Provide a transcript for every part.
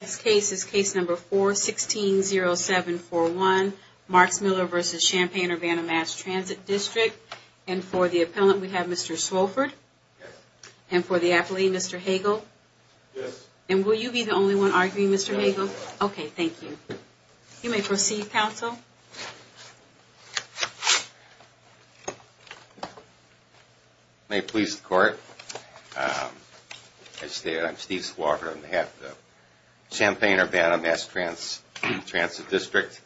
This case is Case No. 4-16-0741, Marcmiller v. Champaign-Urbana Mass Transit District, and for the appellant we have Mr. Swofford, and for the appellee, Mr. Hagel. And will you be the only one arguing, Mr. Hagel? Okay, thank you. You may proceed, counsel. May it please the court, I'm Steve Swofford on behalf of the Champaign-Urbana Mass Transit District.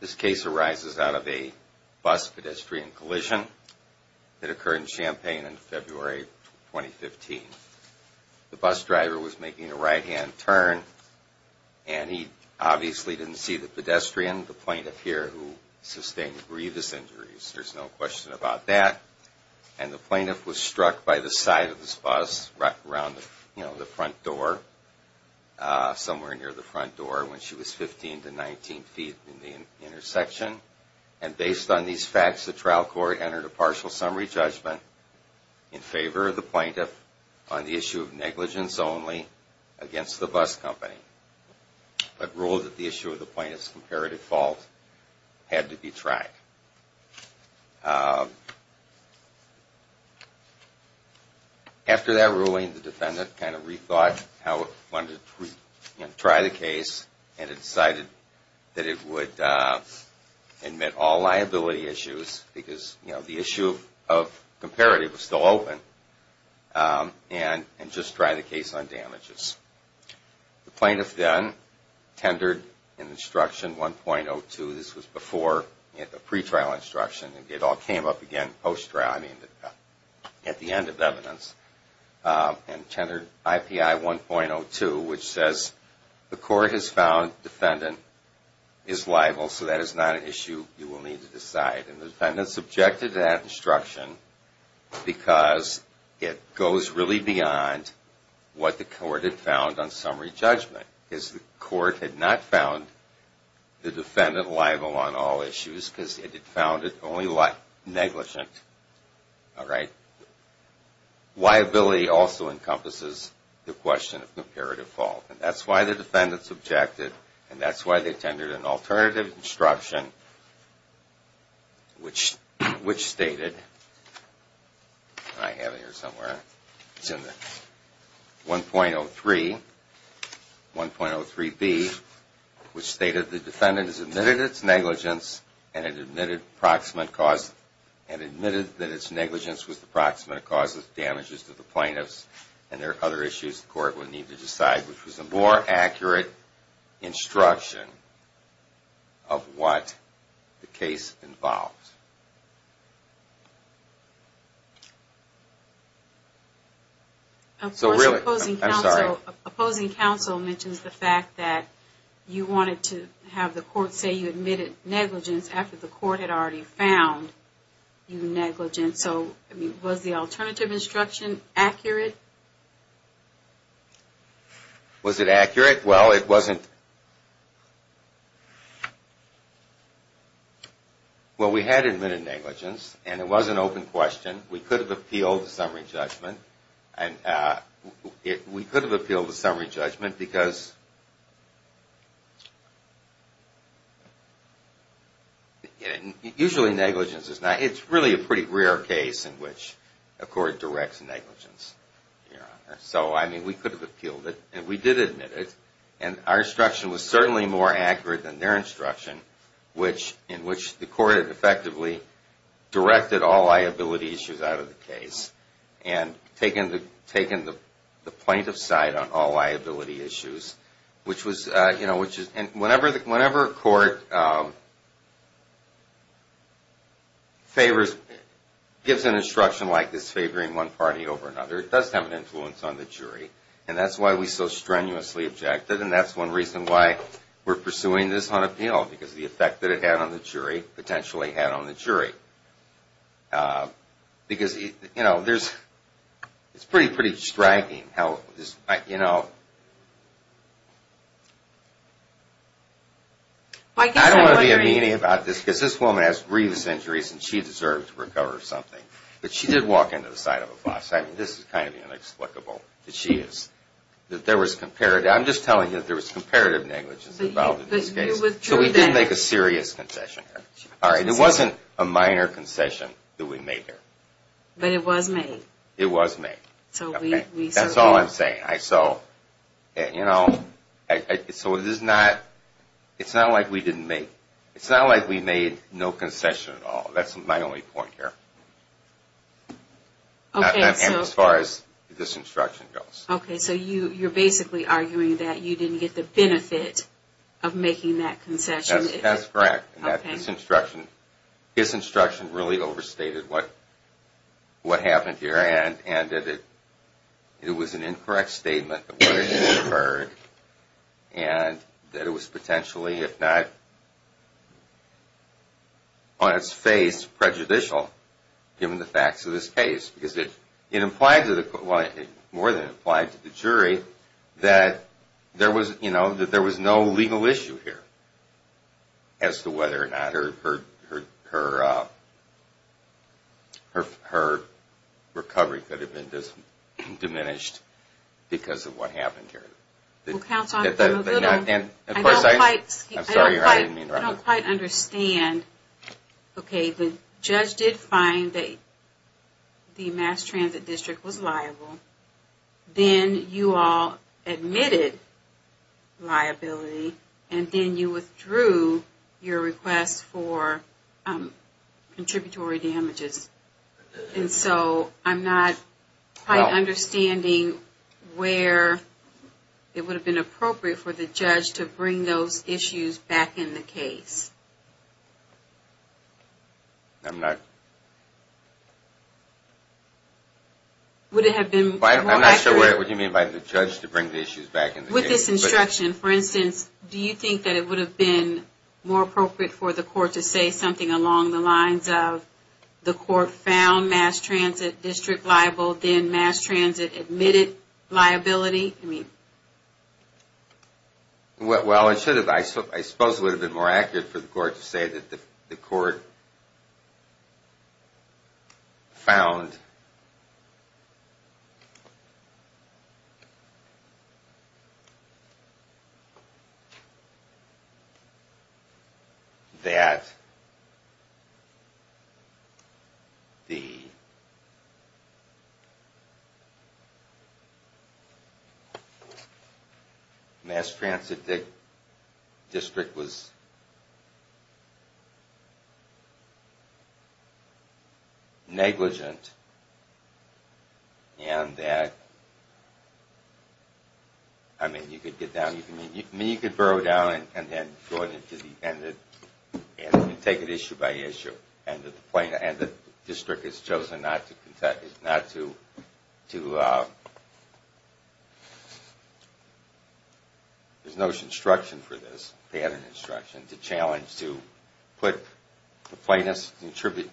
This case arises out of a bus-pedestrian collision that occurred in Champaign in February 2015. The bus driver was making a right-hand turn, and he obviously didn't see the pedestrian, the plaintiff here, who sustained grievous injuries. There's no question about that. And the plaintiff was struck by the side of this bus, right around the front door, somewhere near the front door when she was 15 to 19 feet in the intersection. And based on these facts, the trial court entered a partial summary judgment in favor of the plaintiff on the issue of negligence only against the bus company, but ruled that the issue of the plaintiff's comparative fault had to be tried. After that ruling, the defendant kind of rethought how it wanted to try the case, and it decided that it would admit all liability issues, because the issue of comparative was still open, and just try the case on damages. The plaintiff then tendered an instruction 1.02, this was before the pretrial instruction, and it all came up again post-trial, I mean at the end of evidence, and tendered IPI 1.02, which says the court has found the defendant is liable, so that is not an issue you will need to decide. And the defendant subjected to that instruction, because it goes really beyond what the court had found on summary judgment, because the court had not found the defendant liable on all issues, because it had found it only negligent, all right? Liability also encompasses the question of comparative fault, and that's why the defendants objected, and that's why they tendered an alternative instruction, which stated, I have it here somewhere, it's in the 1.03, 1.03B, which stated the defendant has admitted its negligence, and it admitted proximate cause, and admitted that its negligence was the proximate cause. And the defendant admitted that it was the proximate cause of damages to the plaintiffs, and there are other issues the court would need to decide, which was a more accurate instruction of what the case involved. Opposing counsel mentions the fact that you wanted to have the court say you admitted negligence after the court had already found you negligent, so was the alternative instruction accurate? Was it accurate? Well, it wasn't. Well, we had admitted negligence, and it was an open question. We could have appealed the summary judgment, and we could have appealed the summary judgment because usually negligence is not – it's really a pretty rare case in which a court directs negligence. So, I mean, we could have appealed it, and we did admit it, and our instruction was certainly more accurate than their instruction, in which the court had effectively directed all liability issues out of the case, and taken the plaintiff's side on all liability issues. And whenever a court favors – gives an instruction like this, favoring one party over another, it does have an influence on the jury, and that's why we so strenuously objected, and that's one reason why we're pursuing this on appeal, because of the effect that it had on the jury, potentially had on the jury. Because, you know, there's – it's pretty, pretty striking how – you know, I don't want to be a meanie about this, because this woman has grievous injuries, and she deserves to recover something, but she did walk into the side of a bus. I mean, this is kind of inexplicable that she is – that there was comparative – I'm just telling you that there was comparative negligence involved in this case, so we didn't make a serious concession here. It wasn't a minor concession that we made here. But it was made. It was made. So we – That's all I'm saying. So, you know, so it is not – it's not like we didn't make – it's not like we made no concession at all. That's my only point here. Okay, so – And as far as this instruction goes. Okay, so you're basically arguing that you didn't get the benefit of making that concession. That's correct. Okay. And that this instruction – this instruction really overstated what happened here, and that it was an incorrect statement of what had occurred, and that it was potentially, if not on its face, prejudicial, given the facts of this case. Because it implied to the – well, it more than implied to the jury that there was, you know, that there was no legal issue here as to whether or not her recovery could have been diminished because of what happened here. Well, counsel, I'm – And of course I – I don't quite – I'm sorry, I didn't mean to interrupt. I don't quite understand, okay, the judge did find that the mass transit district was liable, then you all admitted liability, and then you withdrew your request for contributory damages. And so I'm not quite understanding where it would have been appropriate for the judge to bring those issues back in the case. I'm not – Would it have been more accurate – I'm not sure what you mean by the judge to bring the issues back in the case. With this instruction, for instance, do you think that it would have been more appropriate for the court to say something along the lines of the court found mass transit district liable, then mass transit admitted liability? Well, it should have. I suppose it would have been more accurate for the court to say that the court found that the – that the mass transit district was negligent and that – I mean, you could get down – I mean, you could burrow down and then go into the – and take it issue by issue. And the district has chosen not to – there's no instruction for this, pattern instruction, to challenge, to put the plaintiff's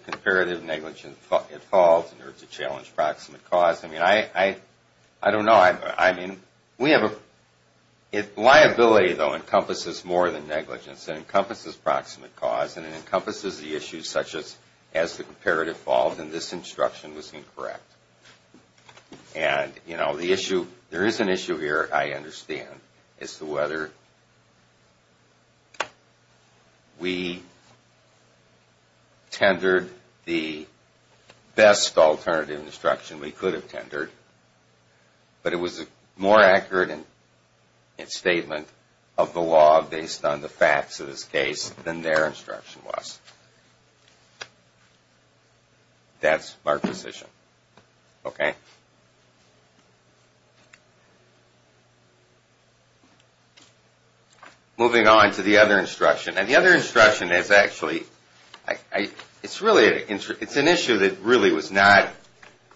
comparative negligence at fault or to challenge proximate cause. I mean, I don't know. I mean, we have a – liability, though, encompasses more than negligence. It encompasses proximate cause and it encompasses the issues such as has the comparative fault and this instruction was incorrect. And, you know, the issue – there is an issue here, I understand, as to whether we tendered the best alternative instruction we could have tendered, but it was more accurate in statement of the law based on the facts of this case than their instruction was. That's my position, okay? Moving on to the other instruction. And the other instruction is actually – it's really – it's an issue that really was not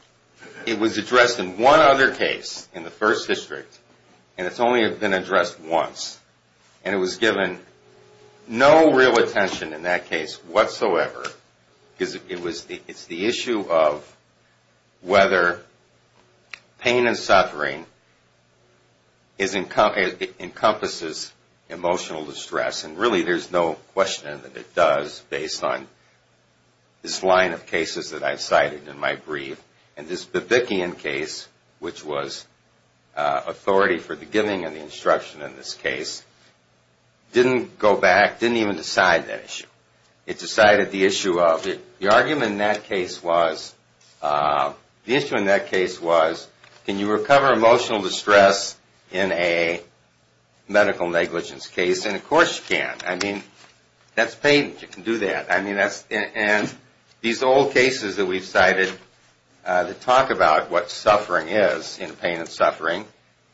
– it was addressed in one other case in the first district and it's only been addressed once. And it was given no real attention in that case whatsoever because it was – it's the issue of whether pain and suffering is – encompasses emotional distress. And really, there's no question that it does based on this line of cases that I've cited in my brief. And this Babikian case, which was authority for the giving of the instruction in this case, didn't go back, didn't even decide that issue. It decided the issue of – the argument in that case was – the issue in that case was can you recover emotional distress in a medical negligence case? And, of course, you can. I mean, that's pain. You can do that. I mean, that's – and these old cases that we've cited that talk about what suffering is in pain and suffering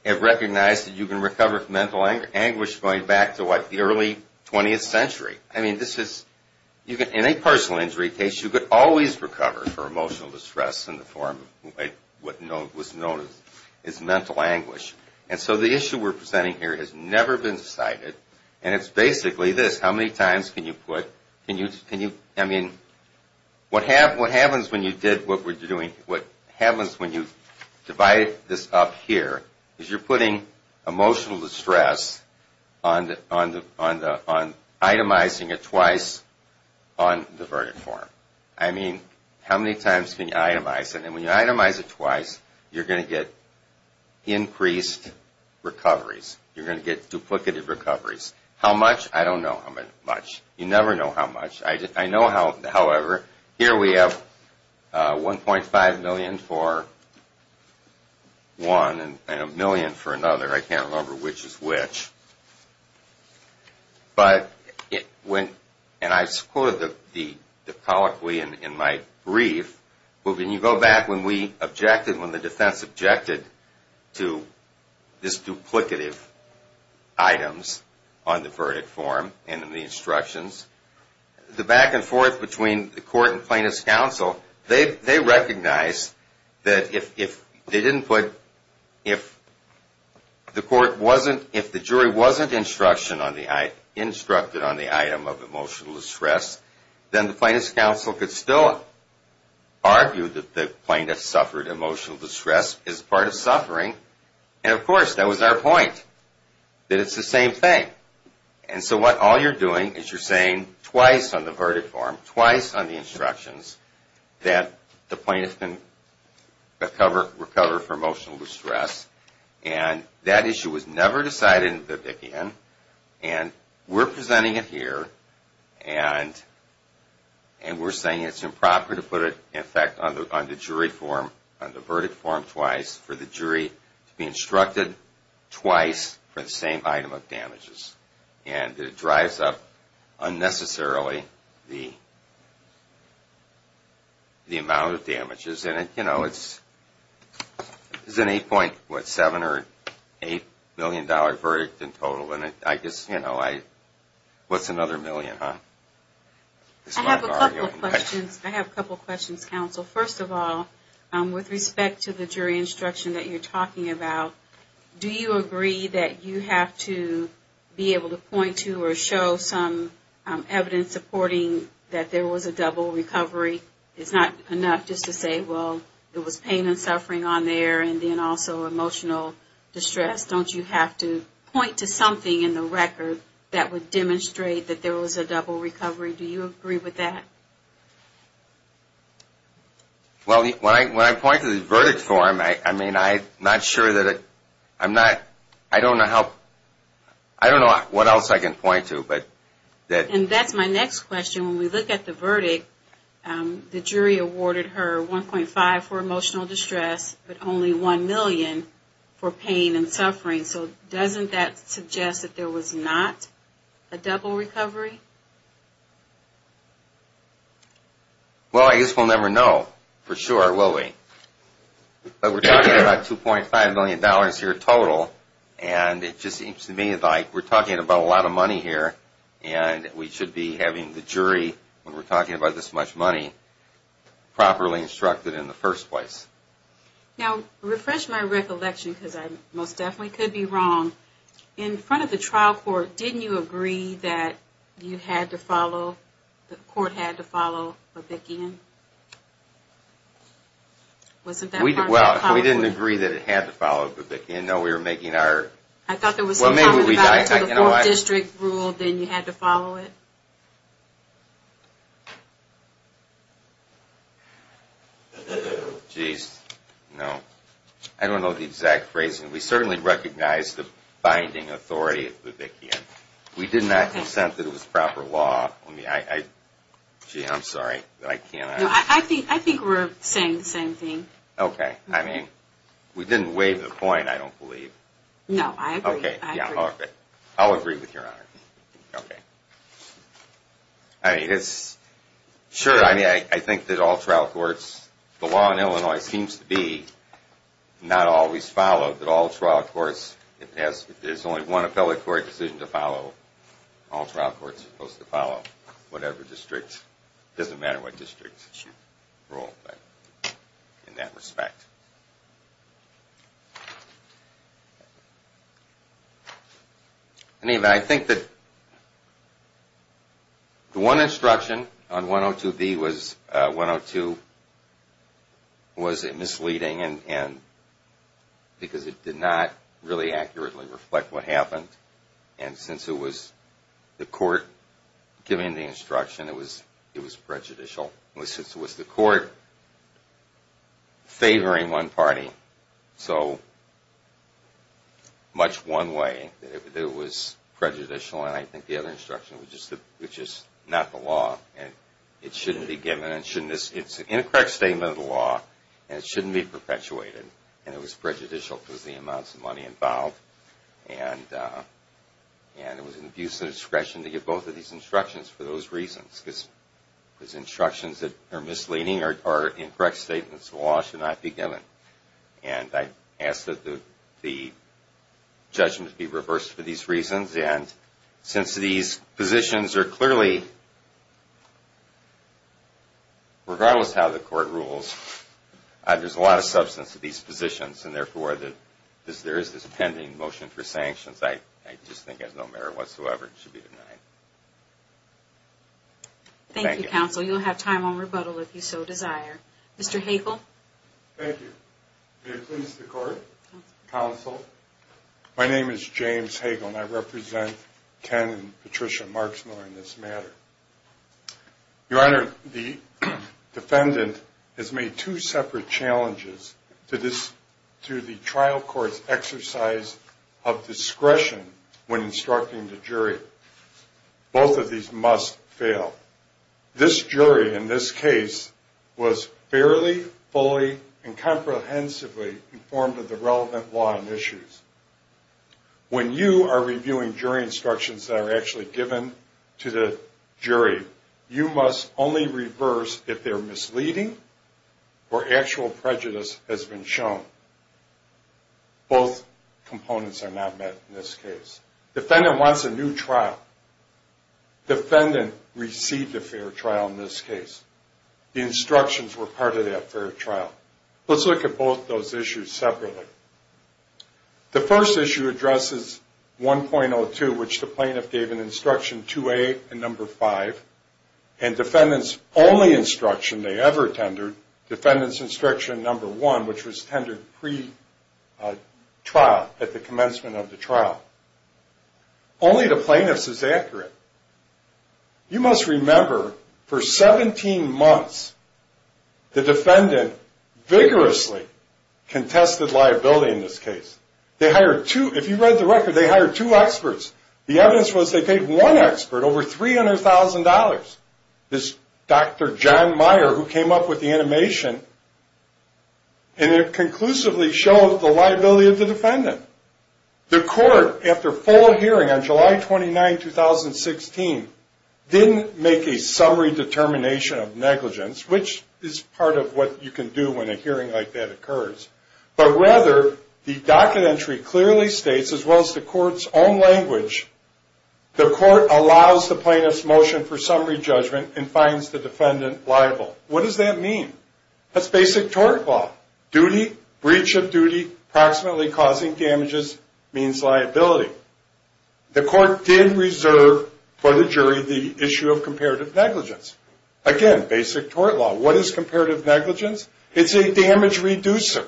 have recognized that you can recover from mental anguish going back to, what, the early 20th century. I mean, this is – in a personal injury case, you could always recover from emotional distress in the form of what was known as mental anguish. And so the issue we're presenting here has never been cited. And it's basically this. How many times can you put – can you – I mean, what happens when you did what we're doing – what happens when you divide this up here is you're putting emotional distress on the – on itemizing it twice on the verdict form. I mean, how many times can you itemize it? And when you itemize it twice, you're going to get increased recoveries. You're going to get duplicative recoveries. How much? I don't know how much. You never know how much. I know how – however, here we have 1.5 million for one and a million for another. I can't remember which is which. But when – and I quoted the colloquy in my brief, but when you go back, when we objected, when the defense objected to this duplicative items on the verdict form and in the instructions, the back and forth between the court and plaintiff's counsel, they recognized that if they didn't put – if the court wasn't – if the jury wasn't able to put the items on the verdict form, they wouldn't be able to put them on the verdict form. If there wasn't instruction on the – instructed on the item of emotional distress, then the plaintiff's counsel could still argue that the plaintiff suffered emotional distress as part of suffering. And of course, that was our point, that it's the same thing. And so what – all you're doing is you're saying twice on the verdict form, twice on the instructions, that the plaintiff can recover from emotional distress. And that issue was never decided in the Vickian, and we're presenting it here, and we're saying it's improper to put it, in fact, on the jury form, on the verdict form twice for the jury to be instructed twice for the same item of damages. And it drives up unnecessarily the amount of damages. And, you know, it's an $8.7 or $8 million verdict in total, and I guess, you know, what's another million, huh? I have a couple questions. I have a couple questions, counsel. First of all, with respect to the jury instruction that you're talking about, do you agree that you have to be able to point to or show some evidence supporting that there was a double recovery? It's not enough just to say, well, there was pain and suffering on there, and then also emotional distress. Don't you have to point to something in the record that would demonstrate that there was a double recovery? Do you agree with that? Well, when I point to the verdict form, I mean, I'm not sure that it, I'm not, I don't know how, I don't know what else I can point to, but. And that's my next question. When we look at the verdict, the jury awarded her $1.5 for emotional distress, but only $1 million for pain and suffering. So doesn't that suggest that there was not a double recovery? Well, I guess we'll never know for sure, will we? But we're talking about $2.5 million here total, and it just seems to me like we're talking about a lot of money here, and we should be having the jury, when we're talking about this much money, properly instructed in the first place. Now, refresh my recollection, because I most definitely could be wrong. In front of the trial court, didn't you agree that you had to follow, the court had to follow Babikian? Well, we didn't agree that it had to follow Babikian. No, we were making our... I thought there was some comment about until the 4th district ruled, then you had to follow it. Geez, no. I don't know the exact phrasing. We certainly recognized the binding authority of Babikian. We did not consent that it was proper law. Gee, I'm sorry, but I can't... No, I think we're saying the same thing. Okay, I mean, we didn't waive the point, I don't believe. No, I agree. Okay, yeah, okay. I'll agree with your honor. Okay. I mean, it's, sure, I think that all trial courts, the law in Illinois seems to be not always followed, that all trial courts, if there's only one appellate court decision to follow, all trial courts are supposed to follow. Whatever district, it doesn't matter what district you rule in that respect. Anyway, I think that the one instruction on 102B was, 102 was misleading because it did not really accurately reflect what happened, and since it was the court giving the instruction, it was prejudicial. Since it was the court favoring one party, so much one way that it was prejudicial, and I think the other instruction was just not the law, and it shouldn't be given, and it's an incorrect statement of the law, and it shouldn't be perpetuated, and it was prejudicial because of the amounts of money involved, and it was an abuse of discretion to give both of these instructions for those reasons. Those instructions that are misleading or incorrect statements of the law should not be given, and I ask that the judgment be reversed for these reasons, and since these positions are clearly, regardless of how the court rules, there's a lot of substance to these positions, and therefore, there is this pending motion for sanctions. I just think as no matter whatsoever, it should be denied. Thank you, counsel. You'll have time on rebuttal if you so desire. Mr. Hagel. Thank you. May it please the court? Counsel. My name is James Hagel, and I represent Ken and Patricia Marksmiller in this matter. Your Honor, the defendant has made two separate challenges to the trial court's exercise of discretion when instructing the jury. Both of these must fail. This jury in this case was fairly, fully, and comprehensively informed of the relevant law and issues. When you are reviewing jury instructions that are actually given to the jury, you must only reverse if they're misleading or actual prejudice has been shown. Both components are not met in this case. Defendant wants a new trial. Defendant received a fair trial in this case. The instructions were part of that fair trial. Let's look at both those issues separately. The first issue addresses 1.02, which the plaintiff gave an instruction 2A and number 5, and defendant's only instruction they ever tendered, defendant's instruction number 1, which was tendered pre-trial, at the commencement of the trial. Only to plaintiffs is accurate. You must remember, for 17 months, the defendant vigorously contested liability in this case. They hired two, if you read the record, they hired two experts. The evidence was they paid one expert over $300,000. This Dr. John Meyer, who came up with the animation, and it conclusively showed the liability of the defendant. The court, after full hearing on July 29, 2016, didn't make a summary determination of negligence, which is part of what you can do when a hearing like that occurs. But rather, the docket entry clearly states, as well as the court's own language, the court allows the plaintiff's motion for summary judgment and finds the defendant liable. What does that mean? That's basic tort law. Breach of duty, approximately causing damages, means liability. The court did reserve for the jury the issue of comparative negligence. Again, basic tort law. What is comparative negligence? It's a damage reducer.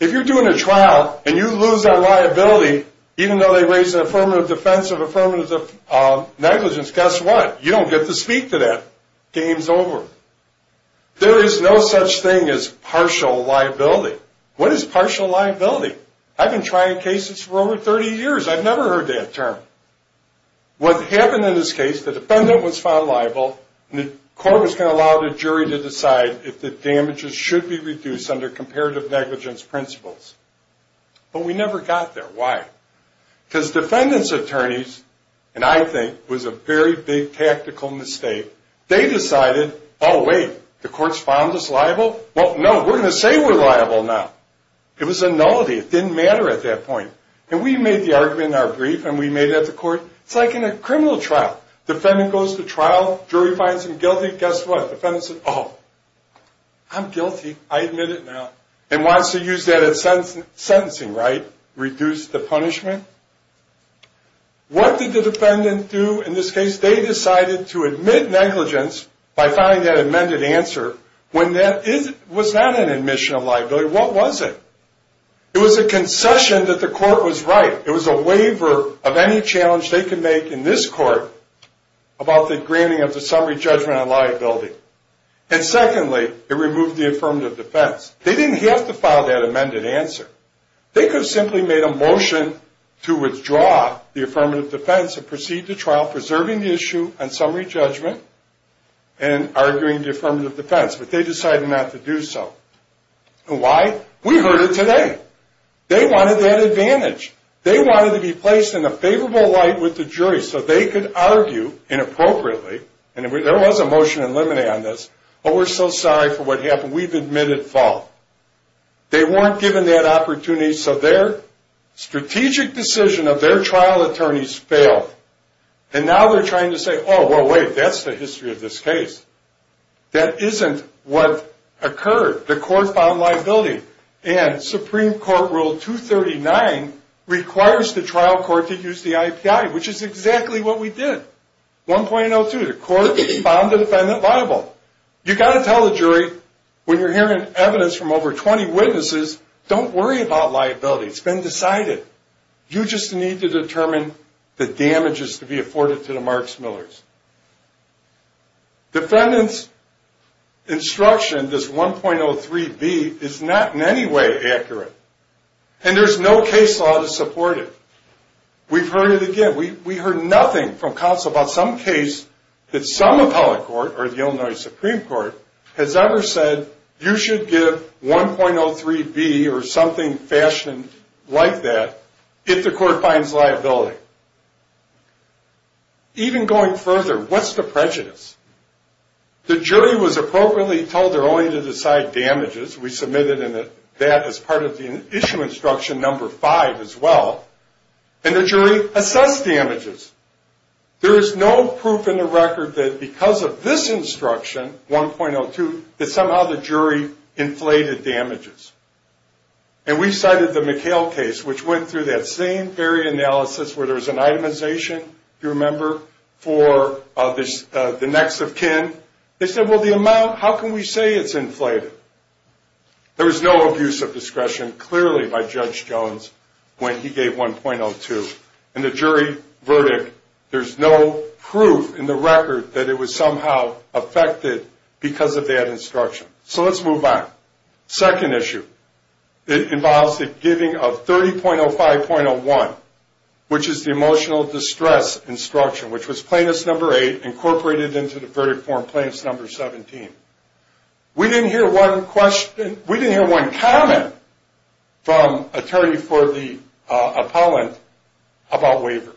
If you're doing a trial and you lose that liability, even though they raise an affirmative defense of affirmative negligence, guess what? You don't get to speak to that. Game's over. There is no such thing as partial liability. What is partial liability? I've been trying cases for over 30 years. I've never heard that term. What happened in this case, the defendant was found liable, and the court was going to allow the jury to decide if the damages should be reduced under comparative negligence principles. But we never got there. Why? Because defendant's attorneys, and I think was a very big tactical mistake, they decided, oh, wait, the court's found us liable? Well, no, we're going to say we're liable now. It was a nullity. It didn't matter at that point. And we made the argument in our brief, and we made that to court. It's like in a criminal trial. Defendant goes to trial. Jury finds him guilty. Guess what? Defendant said, oh, I'm guilty. I admit it now. And wants to use that as sentencing, right? Reduce the punishment. What did the defendant do in this case? They decided to admit negligence by filing that amended answer when that was not an admission of liability. What was it? It was a concession that the court was right. It was a waiver of any challenge they could make in this court about the granting of the summary judgment on liability. And secondly, it removed the affirmative defense. They didn't have to file that amended answer. They could have simply made a motion to withdraw the affirmative defense and proceed to trial, preserving the issue on summary judgment and arguing the affirmative defense. But they decided not to do so. And why? We heard it today. They wanted that advantage. They wanted to be placed in a favorable light with the jury so they could argue inappropriately. And there was a motion in limine on this, but we're so sorry for what happened. We've admitted fault. They weren't given that opportunity, so their strategic decision of their trial attorneys failed. And now they're trying to say, oh, well, wait, that's the history of this case. That isn't what occurred. The court found liability. And Supreme Court Rule 239 requires the trial court to use the IPI, which is exactly what we did. 1.02, the court found the defendant liable. You've got to tell the jury when you're hearing evidence from over 20 witnesses, don't worry about liability. It's been decided. You just need to determine the damages to be afforded to the Marks-Millers. Defendant's instruction, this 1.03b, is not in any way accurate. And there's no case law to support it. We've heard it again. We heard nothing from counsel about some case that some appellate court or the Illinois Supreme Court has ever said, you should give 1.03b or something fashioned like that if the court finds liability. Even going further, what's the prejudice? The jury was appropriately told they're only to decide damages. We submitted that as part of the issue instruction number five as well. And the jury assessed damages. There is no proof in the record that because of this instruction, 1.02, that somehow the jury inflated damages. And we cited the McHale case, which went through that same very analysis where there was an itemization, if you remember, for the next of kin. They said, well, the amount, how can we say it's inflated? There was no abuse of discretion clearly by Judge Jones when he gave 1.02. In the jury verdict, there's no proof in the record that it was somehow affected because of that instruction. So let's move on. Second issue involves the giving of 30.05.01, which is the emotional distress instruction, which was plaintiff's number eight incorporated into the verdict form plaintiff's number 17. We didn't hear one question, we didn't hear one comment from attorney for the appellant about waiver.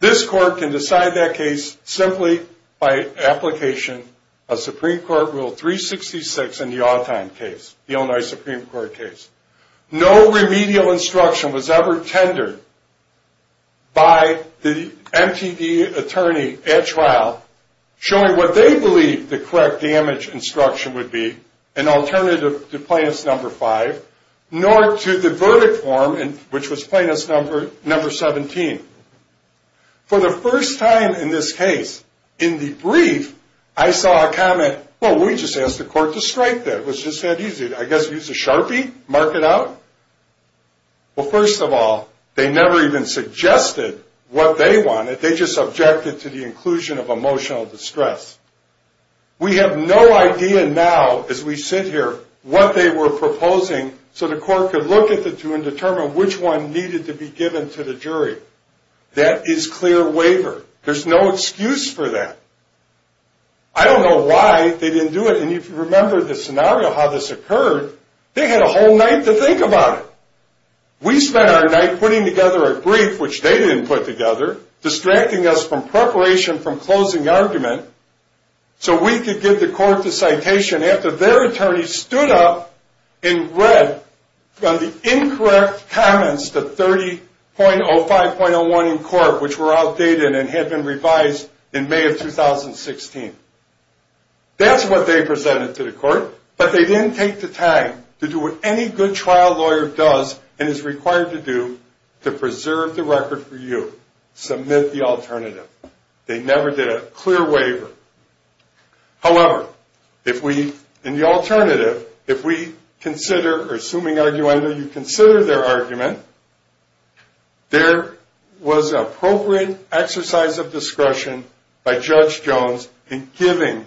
This court can decide that case simply by application of Supreme Court Rule 366 in the Autheim case, the Illinois Supreme Court case. No remedial instruction was ever tendered by the MTD attorney at trial showing what they believed the correct damage instruction would be, an alternative to plaintiff's number five, nor to the verdict form, which was plaintiff's number 17. For the first time in this case, in the brief, I saw a comment, well, we just asked the court to strike that. It was just that easy. I guess use a sharpie, mark it out. Well, first of all, they never even suggested what they wanted. They just objected to the inclusion of emotional distress. We have no idea now, as we sit here, what they were proposing, so the court could look at the two and determine which one needed to be given to the jury. That is clear waiver. There's no excuse for that. I don't know why they didn't do it, and if you remember the scenario, how this occurred, they had a whole night to think about it. We spent our night putting together a brief, which they didn't put together, distracting us from preparation from closing argument, so we could give the court the citation after their attorney stood up and read the incorrect comments to 30.05.01 in court, which were outdated and had been revised in May of 2016. That's what they presented to the court, but they didn't take the time to do what any good trial lawyer does and is required to do to preserve the record for you, submit the alternative. They never did a clear waiver. However, in the alternative, if we consider, or assuming you consider their argument, there was an appropriate exercise of discretion by Judge Jones in giving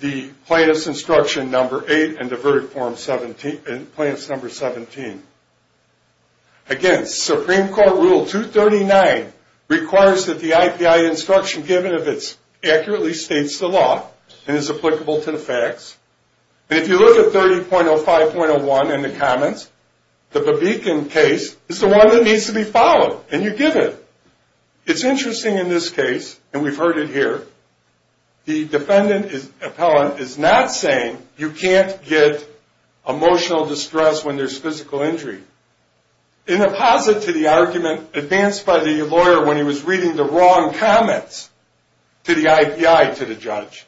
the plaintiff's instruction number 8 and the verdict form 17, and plaintiff's number 17. Again, Supreme Court Rule 239 requires that the IPI instruction given of it accurately states the law and is applicable to the facts, and if you look at 30.05.01 in the comments, the Babikin case is the one that needs to be followed, and you give it. It's interesting in this case, and we've heard it here, the defendant appellant is not saying you can't get emotional distress when there's physical injury. In a posit to the argument advanced by the lawyer when he was reading the wrong comments to the IPI to the judge.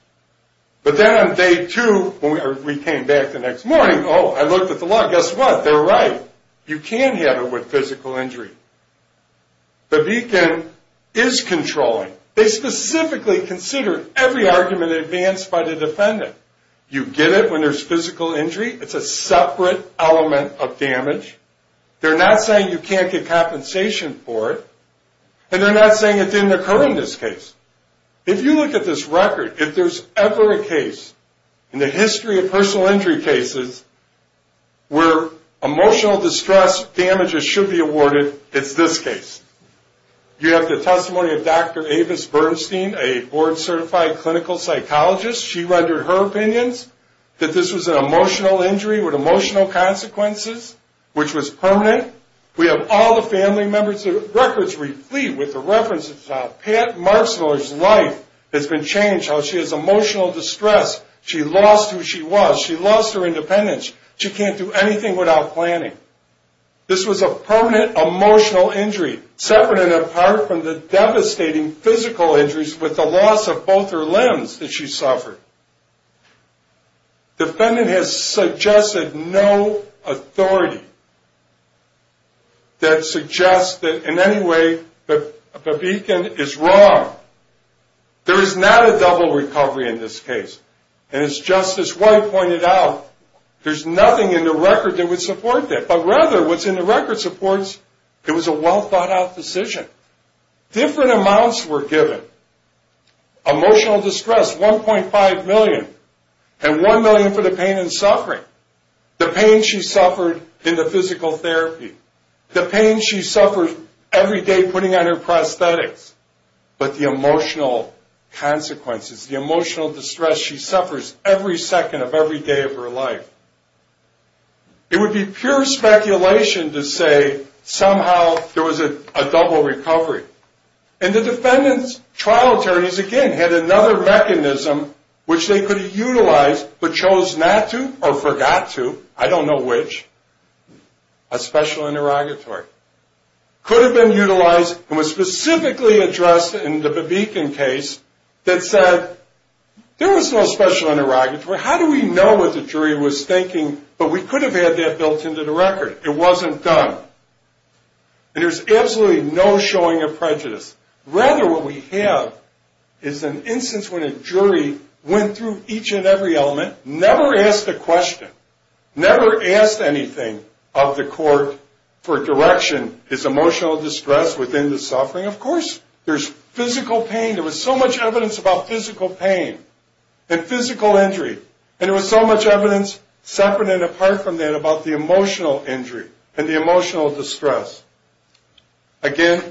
But then on day two, when we came back the next morning, oh, I looked at the law, guess what, they're right. You can have it with physical injury. Babikin is controlling. They specifically consider every argument advanced by the defendant. You get it when there's physical injury. It's a separate element of damage. They're not saying you can't get compensation for it, and they're not saying it didn't occur in this case. If you look at this record, if there's ever a case in the history of personal injury cases where emotional distress damages should be awarded, it's this case. You have the testimony of Dr. Avis Bernstein, a board-certified clinical psychologist. She rendered her opinions that this was an emotional injury with emotional consequences, which was permanent. We have all the family members' records replete with the references about Pat Marsteller's life has been changed, how she has emotional distress. She lost who she was. She lost her independence. She can't do anything without planning. This was a permanent emotional injury separate and apart from the devastating physical injuries with the loss of both her limbs that she suffered. The defendant has suggested no authority that suggests that in any way Babikin is wrong. There is not a double recovery in this case. As Justice White pointed out, there's nothing in the record that would support that. But rather, what's in the record supports it was a well-thought-out decision. Different amounts were given. Emotional distress, $1.5 million, and $1 million for the pain and suffering, the pain she suffered in the physical therapy, the pain she suffered every day putting on her prosthetics, but the emotional consequences, the emotional distress she suffers every second of every day of her life. It would be pure speculation to say somehow there was a double recovery. And the defendant's trial attorneys, again, had another mechanism which they could have utilized but chose not to or forgot to. I don't know which. A special interrogatory. Could have been utilized and was specifically addressed in the Babikin case that said, there was no special interrogatory. How do we know what the jury was thinking? But we could have had that built into the record. It wasn't done. And there's absolutely no showing of prejudice. Rather, what we have is an instance when a jury went through each and every element, never asked a question, never asked anything of the court for direction, is emotional distress within the suffering? Of course. There's physical pain. There was so much evidence about physical pain and physical injury. And there was so much evidence separate and apart from that about the emotional injury and the emotional distress. Again,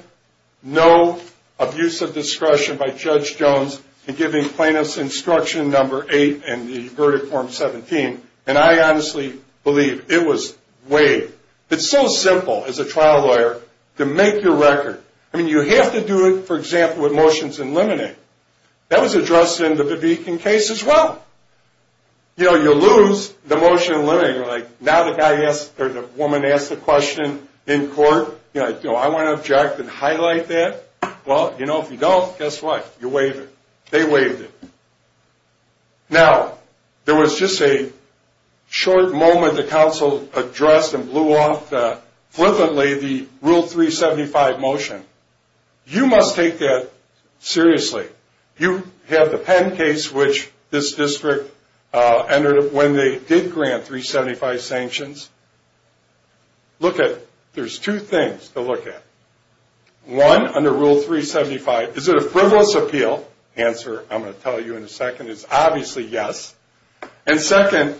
no abuse of discretion by Judge Jones in giving plaintiff's instruction number eight and the verdict form 17. And I honestly believe it was waived. It's so simple as a trial lawyer to make your record. I mean, you have to do it, for example, with motions in limine. That was addressed in the Babikin case as well. You know, you lose the motion in limine. You're like, now the woman asked the question in court. You know, I want to object and highlight that. Well, you know, if you don't, guess what? You waive it. They waived it. Now, there was just a short moment the counsel addressed and blew off flippantly the Rule 375 motion. You must take that seriously. You have the Penn case, which this district entered when they did grant 375 sanctions. Look at it. There's two things to look at. One, under Rule 375, is it a frivolous appeal? The answer I'm going to tell you in a second is obviously yes. And second,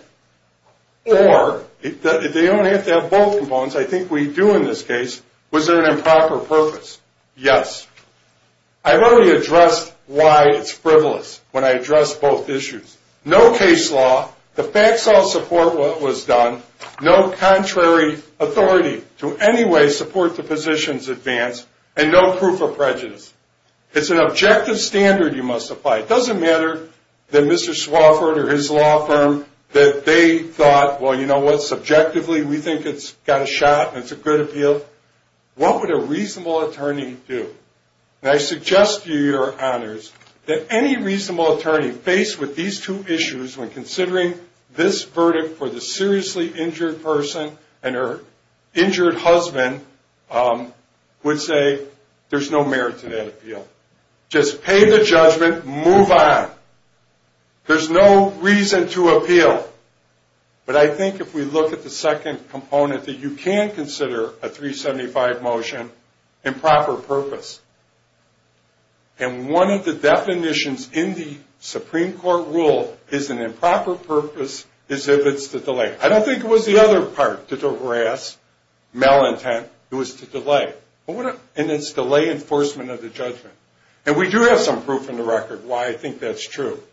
or they only have to have both components. I think we do in this case. Was there an improper purpose? Yes. I've already addressed why it's frivolous when I address both issues. No case law. The facts all support what was done. No contrary authority to any way support the position's advance. And no proof of prejudice. It's an objective standard you must apply. It doesn't matter that Mr. Swafford or his law firm, that they thought, well, you know what, subjectively we think it's got a shot and it's a good appeal. What would a reasonable attorney do? And I suggest to you, Your Honors, that any reasonable attorney faced with these two issues when considering this verdict for the seriously injured person and her injured husband would say there's no merit to that appeal. Just pay the judgment. Move on. There's no reason to appeal. But I think if we look at the second component, that you can consider a 375 motion improper purpose. And one of the definitions in the Supreme Court rule is an improper purpose is if it's to delay. I don't think it was the other part to harass, malintent. It was to delay. And it's delay enforcement of the judgment. And we do have some proof in the record why I think that's true.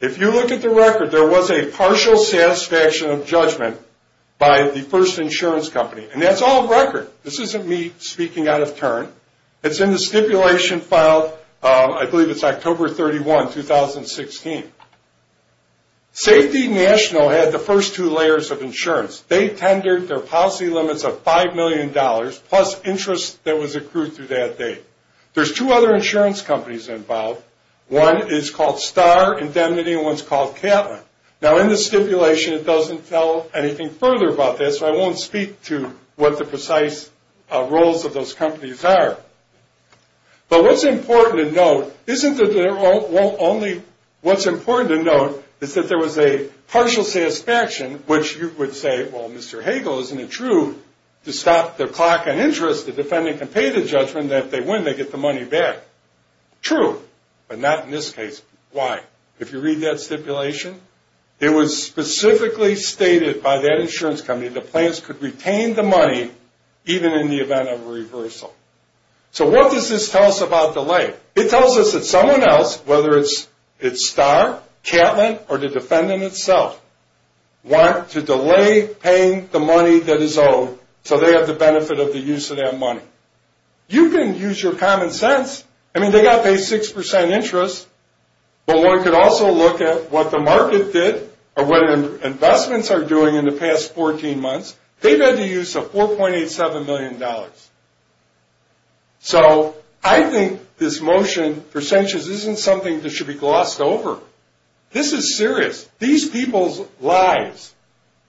If you look at the record, there was a partial satisfaction of judgment by the first insurance company. And that's all record. This isn't me speaking out of turn. It's in the stipulation filed, I believe it's October 31, 2016. Safety National had the first two layers of insurance. They tendered their policy limits of $5 million plus interest that was accrued through that date. There's two other insurance companies involved. One is called Star Indemnity, and one's called Catlin. Now, in the stipulation, it doesn't tell anything further about this, so I won't speak to what the precise roles of those companies are. But what's important to note is that there was a partial satisfaction, which you would say, well, Mr. Hagel, isn't it true to stop the clock on interest? The defendant can pay the judgment, and if they win, they get the money back. True, but not in this case. Why? If you read that stipulation, it was specifically stated by that insurance company that plans could retain the money, even in the event of a reversal. So what does this tell us about delay? It tells us that someone else, whether it's Star, Catlin, or the defendant itself, want to delay paying the money that is owed so they have the benefit of the use of that money. You can use your common sense. I mean, they got to pay 6% interest, but one could also look at what the market did or what investments are doing in the past 14 months. They've had the use of $4.87 million. So I think this motion for sentences isn't something that should be glossed over. This is serious. These people's lives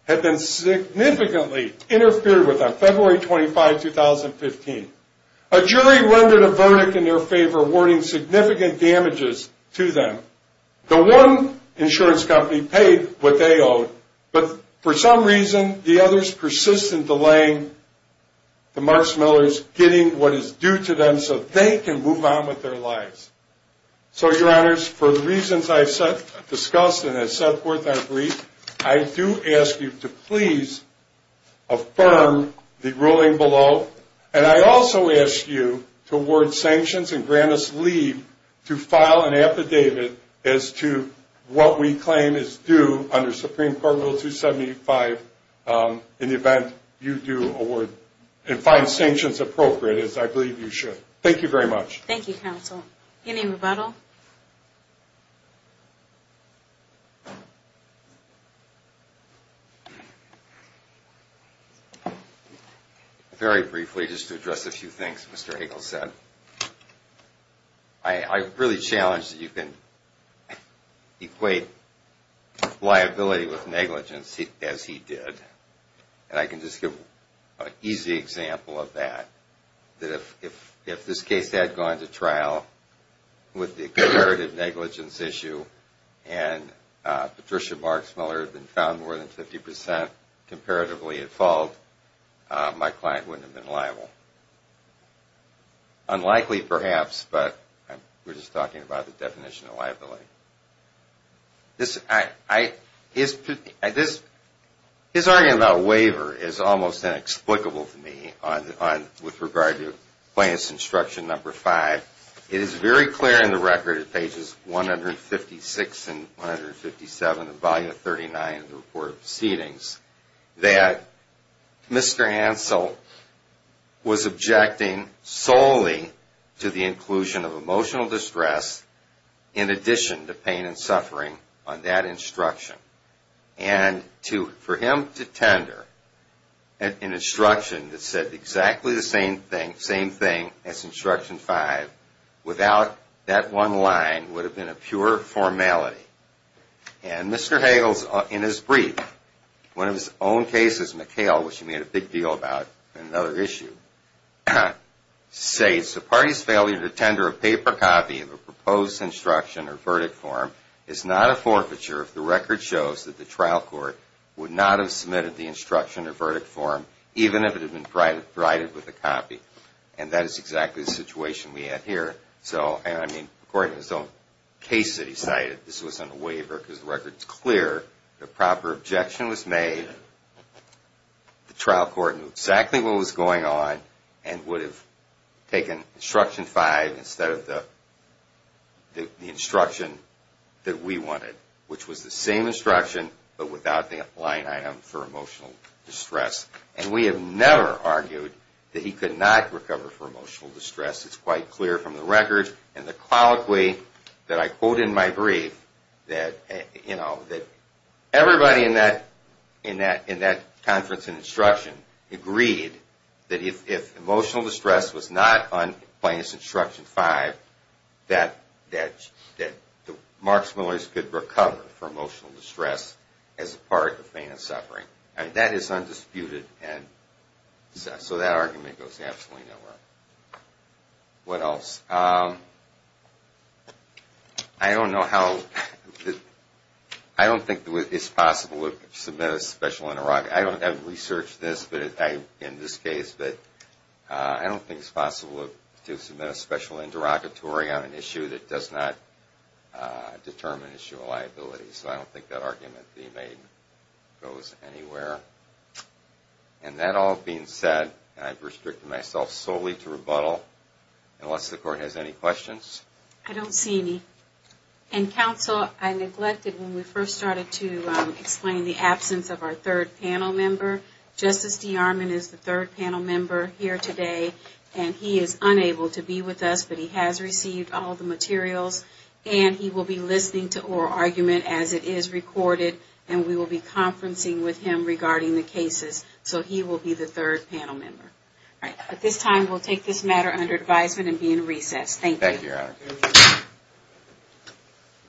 have been significantly interfered with on February 25, 2015. A jury rendered a verdict in their favor, awarding significant damages to them. The one insurance company paid what they owed, but for some reason the others persist in delaying the Marks Millers getting what is due to them so they can move on with their lives. So, Your Honors, for the reasons I've discussed and have set forth on brief, I do ask you to please affirm the ruling below, and I also ask you to award sanctions and grant us leave to file an affidavit as to what we claim is due under Supreme Court Rule 275 in the event you do award and find sanctions appropriate, as I believe you should. Thank you very much. Thank you, Counsel. Any rebuttal? Very briefly, just to address a few things Mr. Hagel said. I really challenge that you can equate liability with negligence, as he did. And I can just give an easy example of that. If this case had gone to trial with the comparative negligence issue and Patricia Marks Miller had been found more than 50% comparatively at fault, my client wouldn't have been liable. Unlikely, perhaps, but we're just talking about the definition of liability. His argument about waiver is almost inexplicable to me with regard to Plaintiff's Instruction Number 5. It is very clear in the record at pages 156 and 157 of Volume 39 of the Report of Proceedings that Mr. Hansel was objecting solely to the inclusion of emotional distress in addition to pain and suffering on that instruction. And for him to tender an instruction that said exactly the same thing as Instruction 5 without that one line would have been a pure formality. And Mr. Hagel, in his brief, one of his own cases, McHale, which he made a big deal about in another issue, says the party's failure to tender a paper copy of a proposed instruction or verdict form is not a forfeiture if the record shows that the trial court would not have submitted the instruction or verdict form even if it had been provided with a copy. And that is exactly the situation we have here. So, according to his own case that he cited, this wasn't a waiver because the record is clear. The proper objection was made. The trial court knew exactly what was going on and would have taken Instruction 5 instead of the instruction that we wanted, which was the same instruction but without the line item for emotional distress. And we have never argued that he could not recover from emotional distress. It's quite clear from the record and the colloquy that I quote in my brief that everybody in that conference and instruction agreed that if emotional distress was not on Plaintiff's Instruction 5, that the Marks-Millers could recover from emotional distress as a part of pain and suffering. And that is undisputed and so that argument goes absolutely nowhere. What else? I don't know how – I don't think it's possible to submit a special – I don't have researched this in this case, but I don't think it's possible to submit a special interrogatory on an issue that does not determine issue of liability. So, I don't think that argument being made goes anywhere. And that all being said, I've restricted myself solely to rebuttal. Unless the Court has any questions. I don't see any. And Counsel, I neglected when we first started to explain the absence of our third panel member. Justice D'Armond is the third panel member here today and he is unable to be with us, but he has received all the materials and he will be listening to oral argument as it is recorded and we will be conferencing with him regarding the cases. So, he will be the third panel member. At this time, we will take this matter under advisement and be in recess. Thank you.